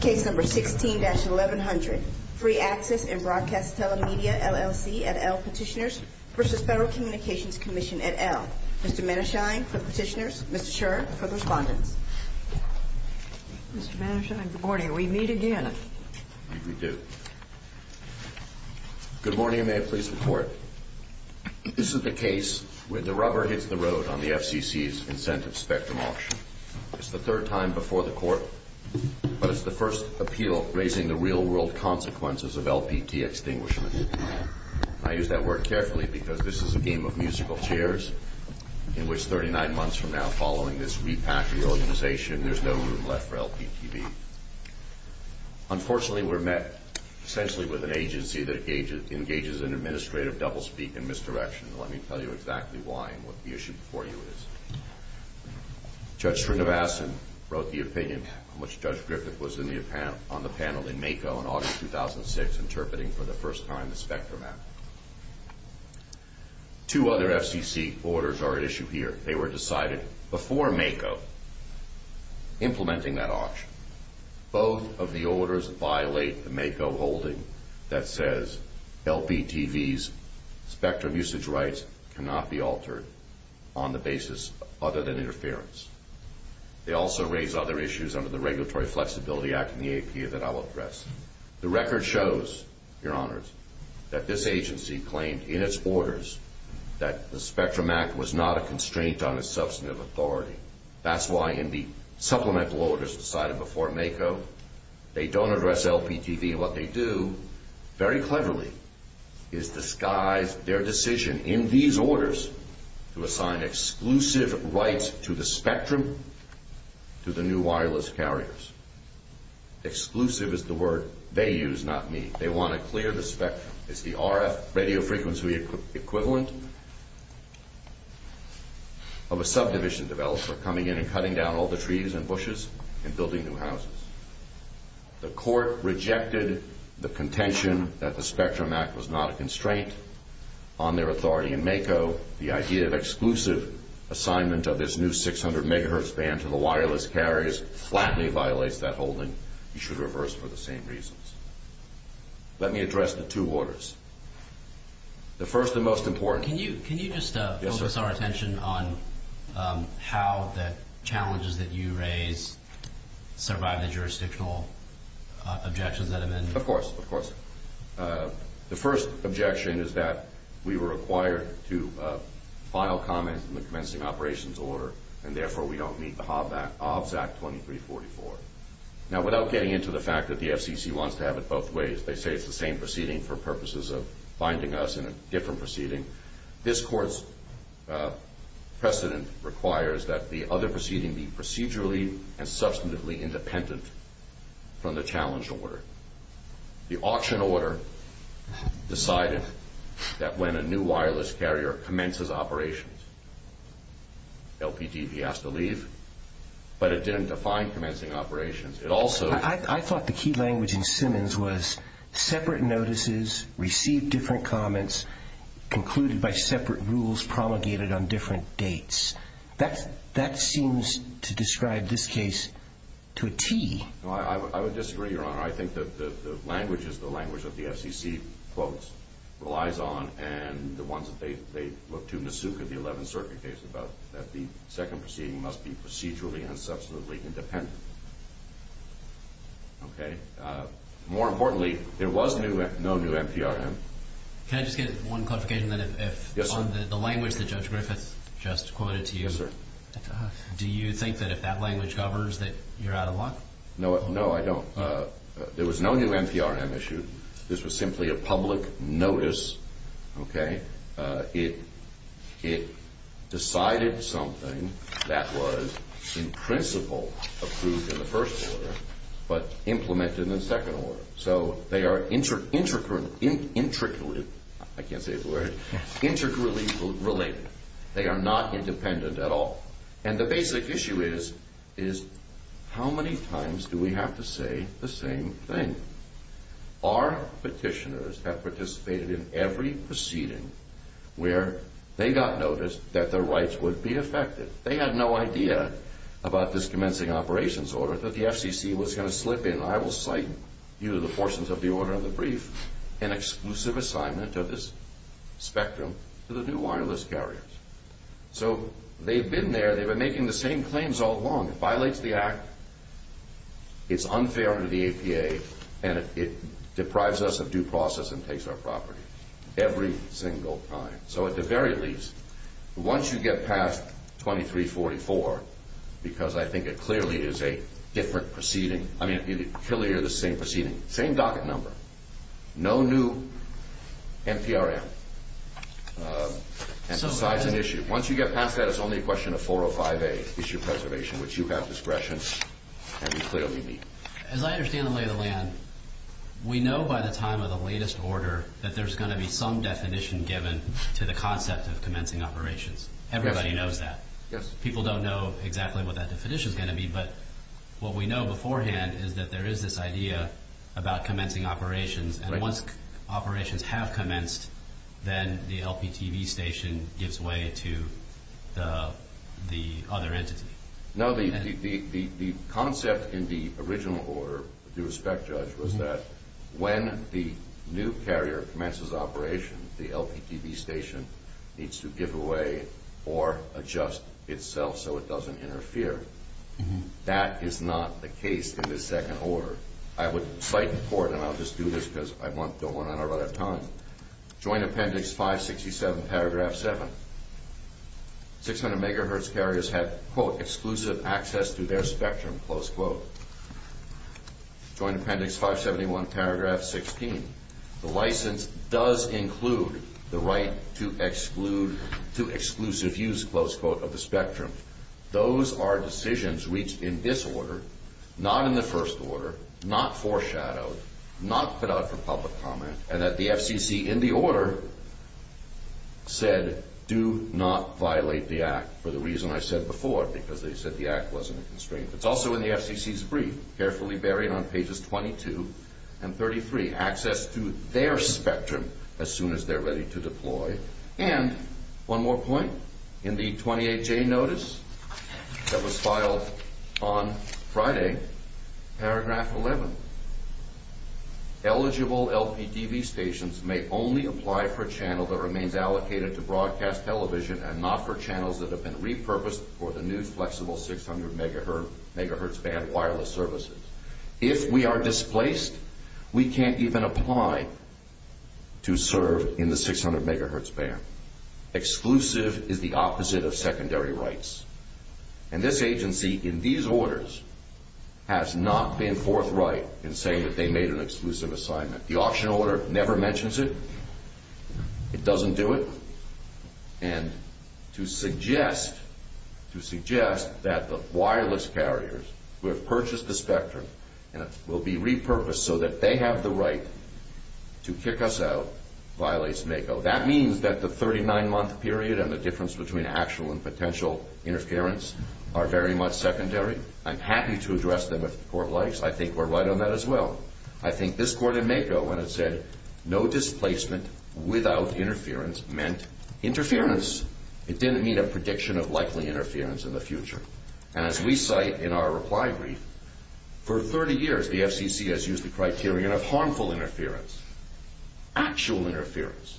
Case No. 16-1100, Free Access & Broadcast Telemedia, LLC at L. Petitioners v. Federal Communications Commission at L. Mr. Manesheim for the Petitioners, Mr. Shurer for the Respondents. Mr. Manesheim, good morning. We meet again. We do. Good morning. May I please report? This is the case where the rubber hits the road on the FCC's incentive spectrum auction. It's the third time before the court, but it's the first appeal raising the real-world consequences of LPT extinguishment. I use that word carefully because this is a game of musical chairs in which 39 months from now, following this repack the organization, there's no room left for LPTV. Unfortunately, we're met essentially with an agency that engages in administrative doublespeak and misdirection. Let me tell you exactly why and what the issue before you is. Judge Srinivasan wrote the opinion on which Judge Griffith was on the panel in MAKO in August 2006, interpreting for the first time the spectrum act. Two other FCC orders are at issue here. They were decided before MAKO, implementing that auction. Both of the orders violate the MAKO holding that says LPTV's spectrum usage rights cannot be altered on the basis other than interference. They also raise other issues under the Regulatory Flexibility Act and the APA that I will address. The record shows, Your Honors, that this agency claimed in its orders that the spectrum act was not a constraint on its substantive authority. That's why in the supplemental orders decided before MAKO, they don't address LPTV. What they do, very cleverly, is disguise their decision in these orders to assign exclusive rights to the spectrum to the new wireless carriers. Exclusive is the word they use, not me. They want to clear the spectrum. It's the RF, radio frequency equivalent of a subdivision developer coming in and cutting down all the trees and bushes and building new houses. The court rejected the contention that the spectrum act was not a constraint on their authority in MAKO. The idea of exclusive assignment of this new 600 MHz band to the wireless carriers flatly violates that holding. You should reverse for the same reasons. Let me address the two orders. The first and most important... Can you just focus our attention on how the challenges that you raise survive the jurisdictional objections that have been... Of course, of course. The first objection is that we were required to file comments in the commencing operations order, and therefore we don't meet the Hobbs Act 2344. Now, without getting into the fact that the FCC wants to have it both ways, they say it's the same proceeding for purposes of binding us in a different proceeding. This court's precedent requires that the other proceeding be procedurally and substantively independent from the challenge order. The auction order decided that when a new wireless carrier commences operations, LPDB has to leave, but it didn't define commencing operations. It also... I thought the key language in Simmons was separate notices received different comments concluded by separate rules promulgated on different dates. That seems to describe this case to a T. Well, I would disagree, Your Honor. I think that the language is the language that the FCC quotes, relies on, and the ones that they look to, Masuka, the 11th Circuit case, about that the second proceeding must be procedurally and substantively independent. Okay? More importantly, there was no new NPRM. Can I just get one clarification, then? Yes, sir. On the language that Judge Griffith just quoted to you... Yes, sir. Do you think that if that language covers that you're out of luck? No, I don't. There was no new NPRM issued. This was simply a public notice, okay? It decided something that was in principle approved in the first order, but implemented in the second order. So they are intricately... I can't say the word. Intricately related. They are not independent at all. And the basic issue is how many times do we have to say the same thing? Our petitioners have participated in every proceeding where they got notice that their rights would be affected. They had no idea about this commencing operations order that the FCC was going to slip in, due to the portions of the order in the brief, an exclusive assignment of this spectrum to the new wireless carriers. So they've been there. They've been making the same claims all along. It violates the Act. It's unfair under the APA. And it deprives us of due process and takes our property every single time. So at the very least, once you get past 2344, because I think it clearly is a different proceeding... I mean, clearly you're the same proceeding. Same docket number. No new NPRM. And besides an issue. Once you get past that, it's only a question of 405A, issue preservation, which you have discretion and you clearly need. As I understand the lay of the land, we know by the time of the latest order that there's going to be some definition given to the concept of commencing operations. Everybody knows that. Yes. People don't know exactly what that definition is going to be. But what we know beforehand is that there is this idea about commencing operations. And once operations have commenced, then the LPTV station gives way to the other entity. No, the concept in the original order, with due respect, Judge, was that when the new carrier commences operation, the LPTV station needs to give away or adjust itself so it doesn't interfere. That is not the case in this second order. I would fight for it, and I'll just do this because I don't want to run out of time. Joint Appendix 567, Paragraph 7. 600 MHz carriers have, quote, exclusive access to their spectrum, close quote. Joint Appendix 571, Paragraph 16. The license does include the right to exclusive use, close quote, of the spectrum. Those are decisions reached in this order, not in the first order, not foreshadowed, not put out for public comment, and that the FCC, in the order, said, do not violate the Act, for the reason I said before, because they said the Act wasn't a constraint. It's also in the FCC's brief, carefully buried on pages 22 and 33. Access to their spectrum as soon as they're ready to deploy. And one more point. In the 28J notice that was filed on Friday, Paragraph 11. Eligible LPTV stations may only apply for a channel that remains allocated to broadcast television and not for channels that have been repurposed for the new flexible 600 MHz band wireless services. If we are displaced, we can't even apply to serve in the 600 MHz band. Exclusive is the opposite of secondary rights. And this agency, in these orders, has not been forthright in saying that they made an exclusive assignment. The auction order never mentions it. It doesn't do it. And to suggest that the wireless carriers who have purchased the spectrum will be repurposed so that they have the right to kick us out violates MACO. That means that the 39-month period and the difference between actual and potential interference are very much secondary. I'm happy to address them if the Court likes. I think we're right on that as well. I think this Court in MACO, when it said no displacement without interference, meant interference. It didn't mean a prediction of likely interference in the future. And as we cite in our reply brief, for 30 years the FCC has used the criterion of harmful interference. Actual interference.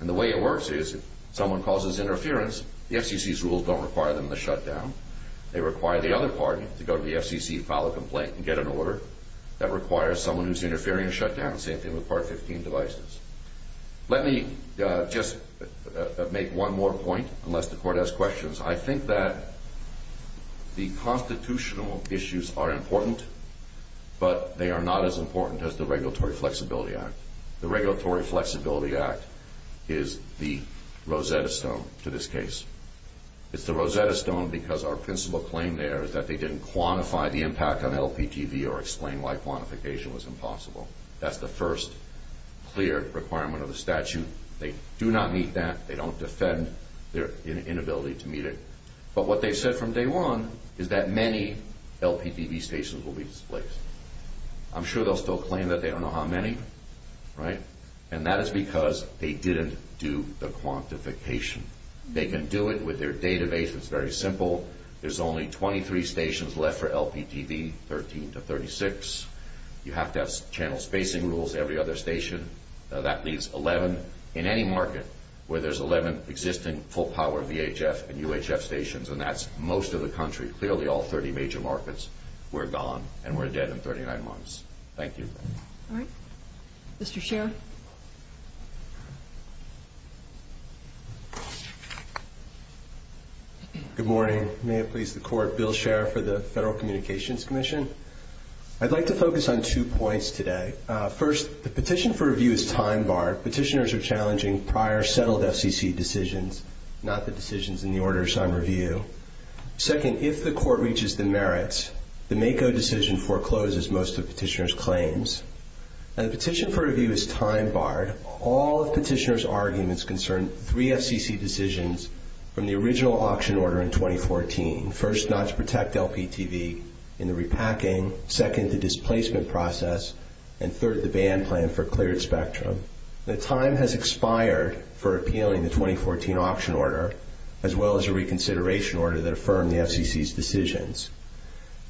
And the way it works is if someone causes interference, the FCC's rules don't require them to shut down. They require the other party to go to the FCC, file a complaint, and get an order. That requires someone who's interfering to shut down. Same thing with Part 15 devices. Let me just make one more point, unless the Court has questions. I think that the constitutional issues are important, but they are not as important as the Regulatory Flexibility Act. The Regulatory Flexibility Act is the Rosetta Stone to this case. It's the Rosetta Stone because our principal claim there is that they didn't quantify the impact on LPTV or explain why quantification was impossible. That's the first clear requirement of the statute. They do not meet that. They don't defend their inability to meet it. But what they said from day one is that many LPTV stations will be displaced. I'm sure they'll still claim that. They don't know how many, right? And that is because they didn't do the quantification. They can do it with their database. It's very simple. There's only 23 stations left for LPTV, 13 to 36. You have to have channel spacing rules every other station. That leaves 11 in any market where there's 11 existing full-power VHF and UHF stations, and that's most of the country. Clearly, all 30 major markets were gone and were dead in 39 months. Thank you. All right. Mr. Scherer. Good morning. May it please the Court, Bill Scherer for the Federal Communications Commission. I'd like to focus on two points today. First, the petition for review is time-barred. Petitioners are challenging prior settled FCC decisions, not the decisions in the orders on review. Second, if the Court reaches the merits, the MACO decision forecloses most of the petitioner's claims. And the petition for review is time-barred. All of the petitioner's arguments concern three FCC decisions from the original auction order in 2014. First, not to protect LPTV in the repacking. Second, the displacement process. And third, the ban plan for cleared spectrum. The time has expired for appealing the 2014 auction order, as well as a reconsideration order that affirmed the FCC's decisions.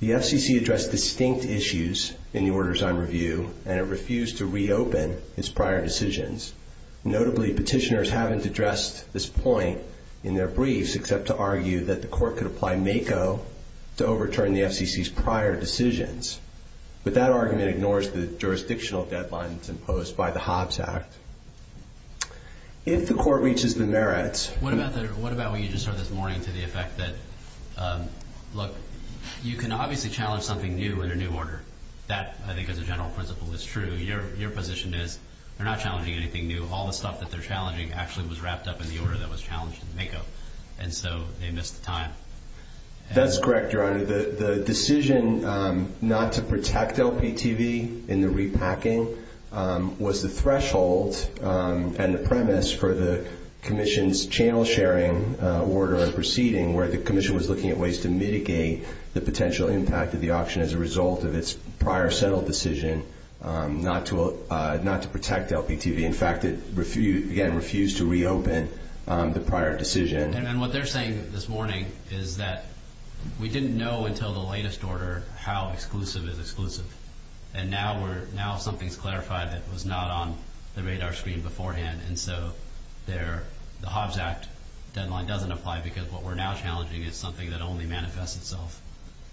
The FCC addressed distinct issues in the orders on review, and it refused to reopen its prior decisions. Notably, petitioners haven't addressed this point in their briefs except to argue that the Court could apply MACO to overturn the FCC's prior decisions. But that argument ignores the jurisdictional deadlines imposed by the Hobbs Act. If the Court reaches the merits... What about what you just heard this morning to the effect that, look, you can obviously challenge something new in a new order. That, I think as a general principle, is true. Your position is they're not challenging anything new. All the stuff that they're challenging actually was wrapped up in the order that was challenged in the MACO, and so they missed the time. That's correct, Your Honor. The decision not to protect LPTV in the repacking was the threshold and the premise for the Commission's channel sharing order and proceeding, where the Commission was looking at ways to mitigate the potential impact of the auction as a result of its prior settled decision not to protect LPTV. In fact, it, again, refused to reopen the prior decision. And what they're saying this morning is that we didn't know until the latest order how exclusive is exclusive, and now something's clarified that was not on the radar screen beforehand, and so the Hobbs Act deadline doesn't apply because what we're now challenging is something that only manifests itself.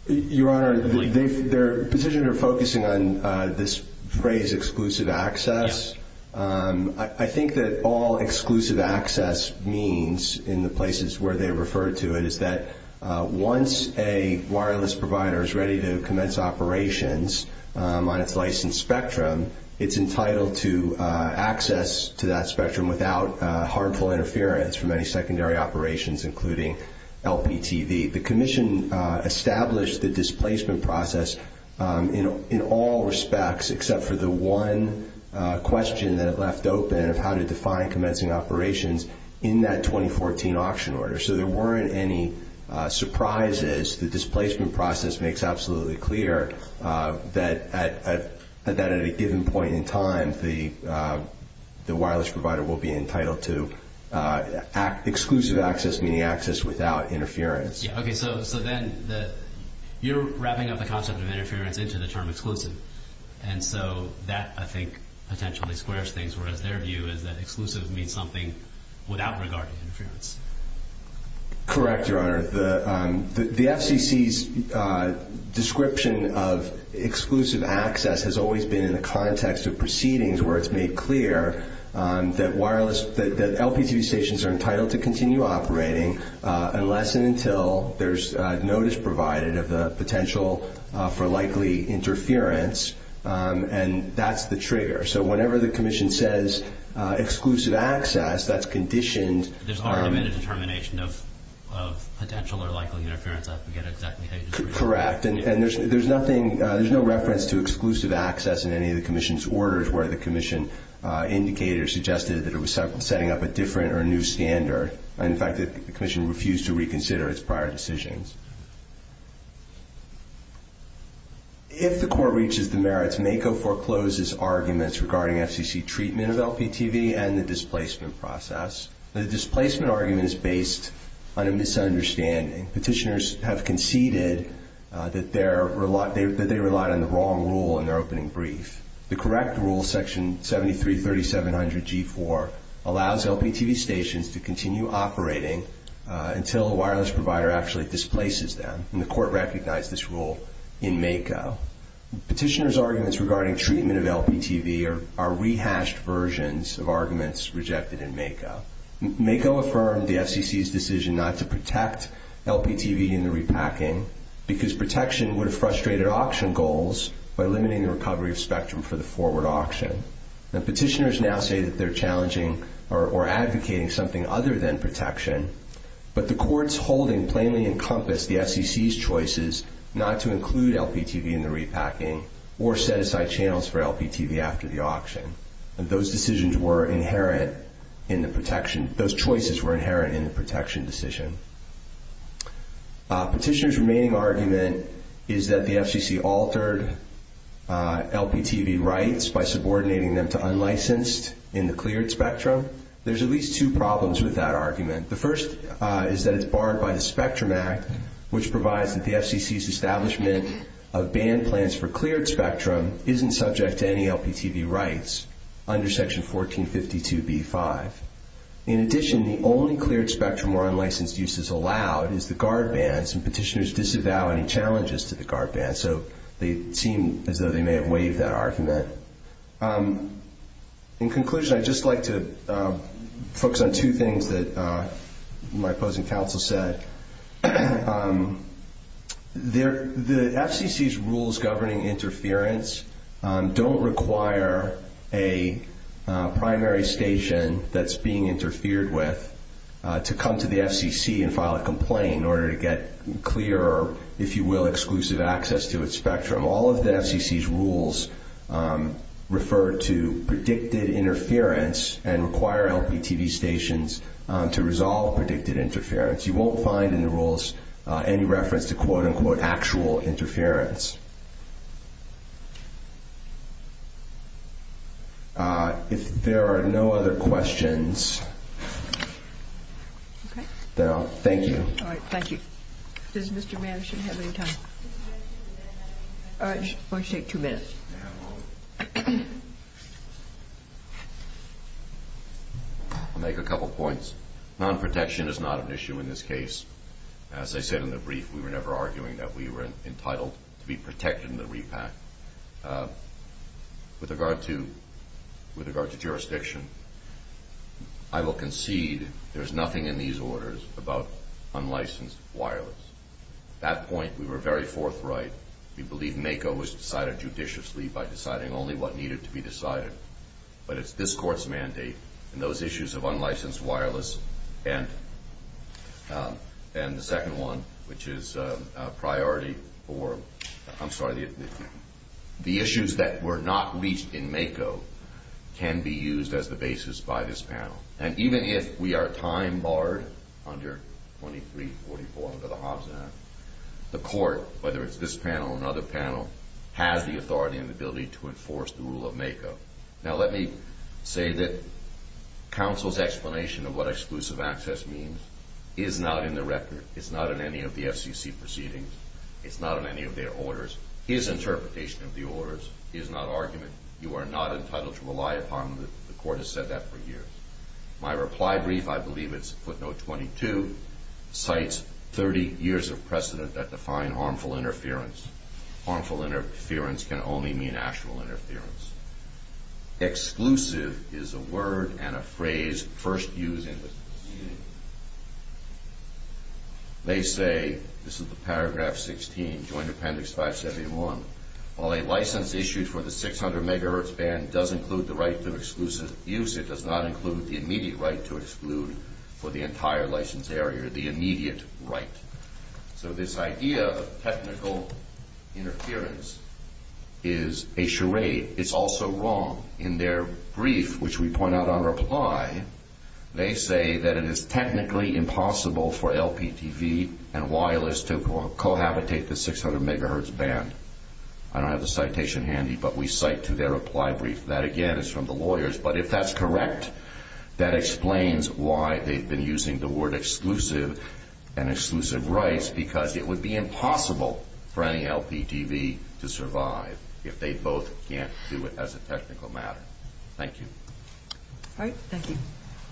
Your Honor, their positions are focusing on this phrase, exclusive access. I think that all exclusive access means, in the places where they refer to it, is that once a wireless provider is ready to commence operations on its licensed spectrum, it's entitled to access to that spectrum without harmful interference from any secondary operations, including LPTV. The Commission established the displacement process in all respects, except for the one question that it left open of how to define commencing operations in that 2014 auction order. So there weren't any surprises. The displacement process makes absolutely clear that at a given point in time, the wireless provider will be entitled to exclusive access, meaning access without interference. Okay, so then you're wrapping up the concept of interference into the term exclusive, and so that, I think, potentially squares things, whereas their view is that exclusive means something without regard to interference. Correct, Your Honor. The FCC's description of exclusive access has always been in the context of proceedings where it's made clear that LPTV stations are entitled to continue operating unless and until there's notice provided of the potential for likely interference, and that's the trigger. So whenever the Commission says exclusive access, that's conditioned. There's already been a determination of potential or likely interference. Correct, and there's no reference to exclusive access in any of the Commission's orders where the Commission indicated or suggested that it was setting up a different or new standard. In fact, the Commission refused to reconsider its prior decisions. If the Court reaches the merits, as MACO forecloses arguments regarding FCC treatment of LPTV and the displacement process, the displacement argument is based on a misunderstanding. Petitioners have conceded that they relied on the wrong rule in their opening brief. The correct rule, Section 733700G4, allows LPTV stations to continue operating until a wireless provider actually displaces them, and the Court recognized this rule in MACO. Petitioners' arguments regarding treatment of LPTV are rehashed versions of arguments rejected in MACO. MACO affirmed the FCC's decision not to protect LPTV in the repacking because protection would have frustrated auction goals by limiting the recovery of spectrum for the forward auction. Now, petitioners now say that they're challenging or advocating something other than protection, but the Court's holding plainly encompassed the FCC's choices not to include LPTV in the repacking or set aside channels for LPTV after the auction, and those choices were inherent in the protection decision. Petitioners' remaining argument is that the FCC altered LPTV rights by subordinating them to unlicensed in the cleared spectrum. There's at least two problems with that argument. The first is that it's barred by the Spectrum Act, which provides that the FCC's establishment of ban plans for cleared spectrum isn't subject to any LPTV rights under Section 1452b-5. In addition, the only cleared spectrum where unlicensed use is allowed is the guard bands, and petitioners disavow any challenges to the guard bands, so they seem as though they may have waived that argument. In conclusion, I'd just like to focus on two things that my opposing counsel said. The FCC's rules governing interference don't require a primary station that's being interfered with to come to the FCC and file a complaint in order to get clear or, if you will, exclusive access to its spectrum. All of the FCC's rules refer to predicted interference and require LPTV stations to resolve predicted interference. You won't find in the rules any reference to quote-unquote actual interference. If there are no other questions, then I'll thank you. All right. Thank you. Does Mr. Mann have any time? I'm going to take two minutes. I'll make a couple points. Non-protection is not an issue in this case. As I said in the brief, we were never arguing that we were entitled to be protected in the repack. With regard to jurisdiction, I will concede there's nothing in these orders about unlicensed wireless. At that point, we were very forthright. We believe MACO was decided judiciously by deciding only what needed to be decided. But it's this Court's mandate, and those issues of unlicensed wireless and the second one, which is priority for the issues that were not reached in MACO, can be used as the basis by this panel. And even if we are time barred under 2344 under the Hobbs Act, the Court, whether it's this panel or another panel, has the authority and the ability to enforce the rule of MACO. Now, let me say that counsel's explanation of what exclusive access means is not in the record. It's not in any of the FCC proceedings. It's not in any of their orders. His interpretation of the orders is not argument. You are not entitled to rely upon them. The Court has said that for years. My reply brief, I believe it's footnote 22, cites 30 years of precedent that define harmful interference. Harmful interference can only mean actual interference. Exclusive is a word and a phrase first used in the proceedings. They say, this is the paragraph 16, joint appendix 571, while a license issued for the 600 megahertz band does include the right to exclusive use, it does not include the immediate right to exclude for the entire license area, the immediate right. So this idea of technical interference is a charade. It's also wrong. In their brief, which we point out on reply, they say that it is technically impossible for LPTV and wireless to cohabitate the 600 megahertz band. I don't have the citation handy, but we cite to their reply brief. That, again, is from the lawyers. But if that's correct, that explains why they've been using the word exclusive and exclusive rights because it would be impossible for any LPTV to survive if they both can't do it as a technical matter. Thank you. All right. Thank you.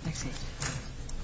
Next page.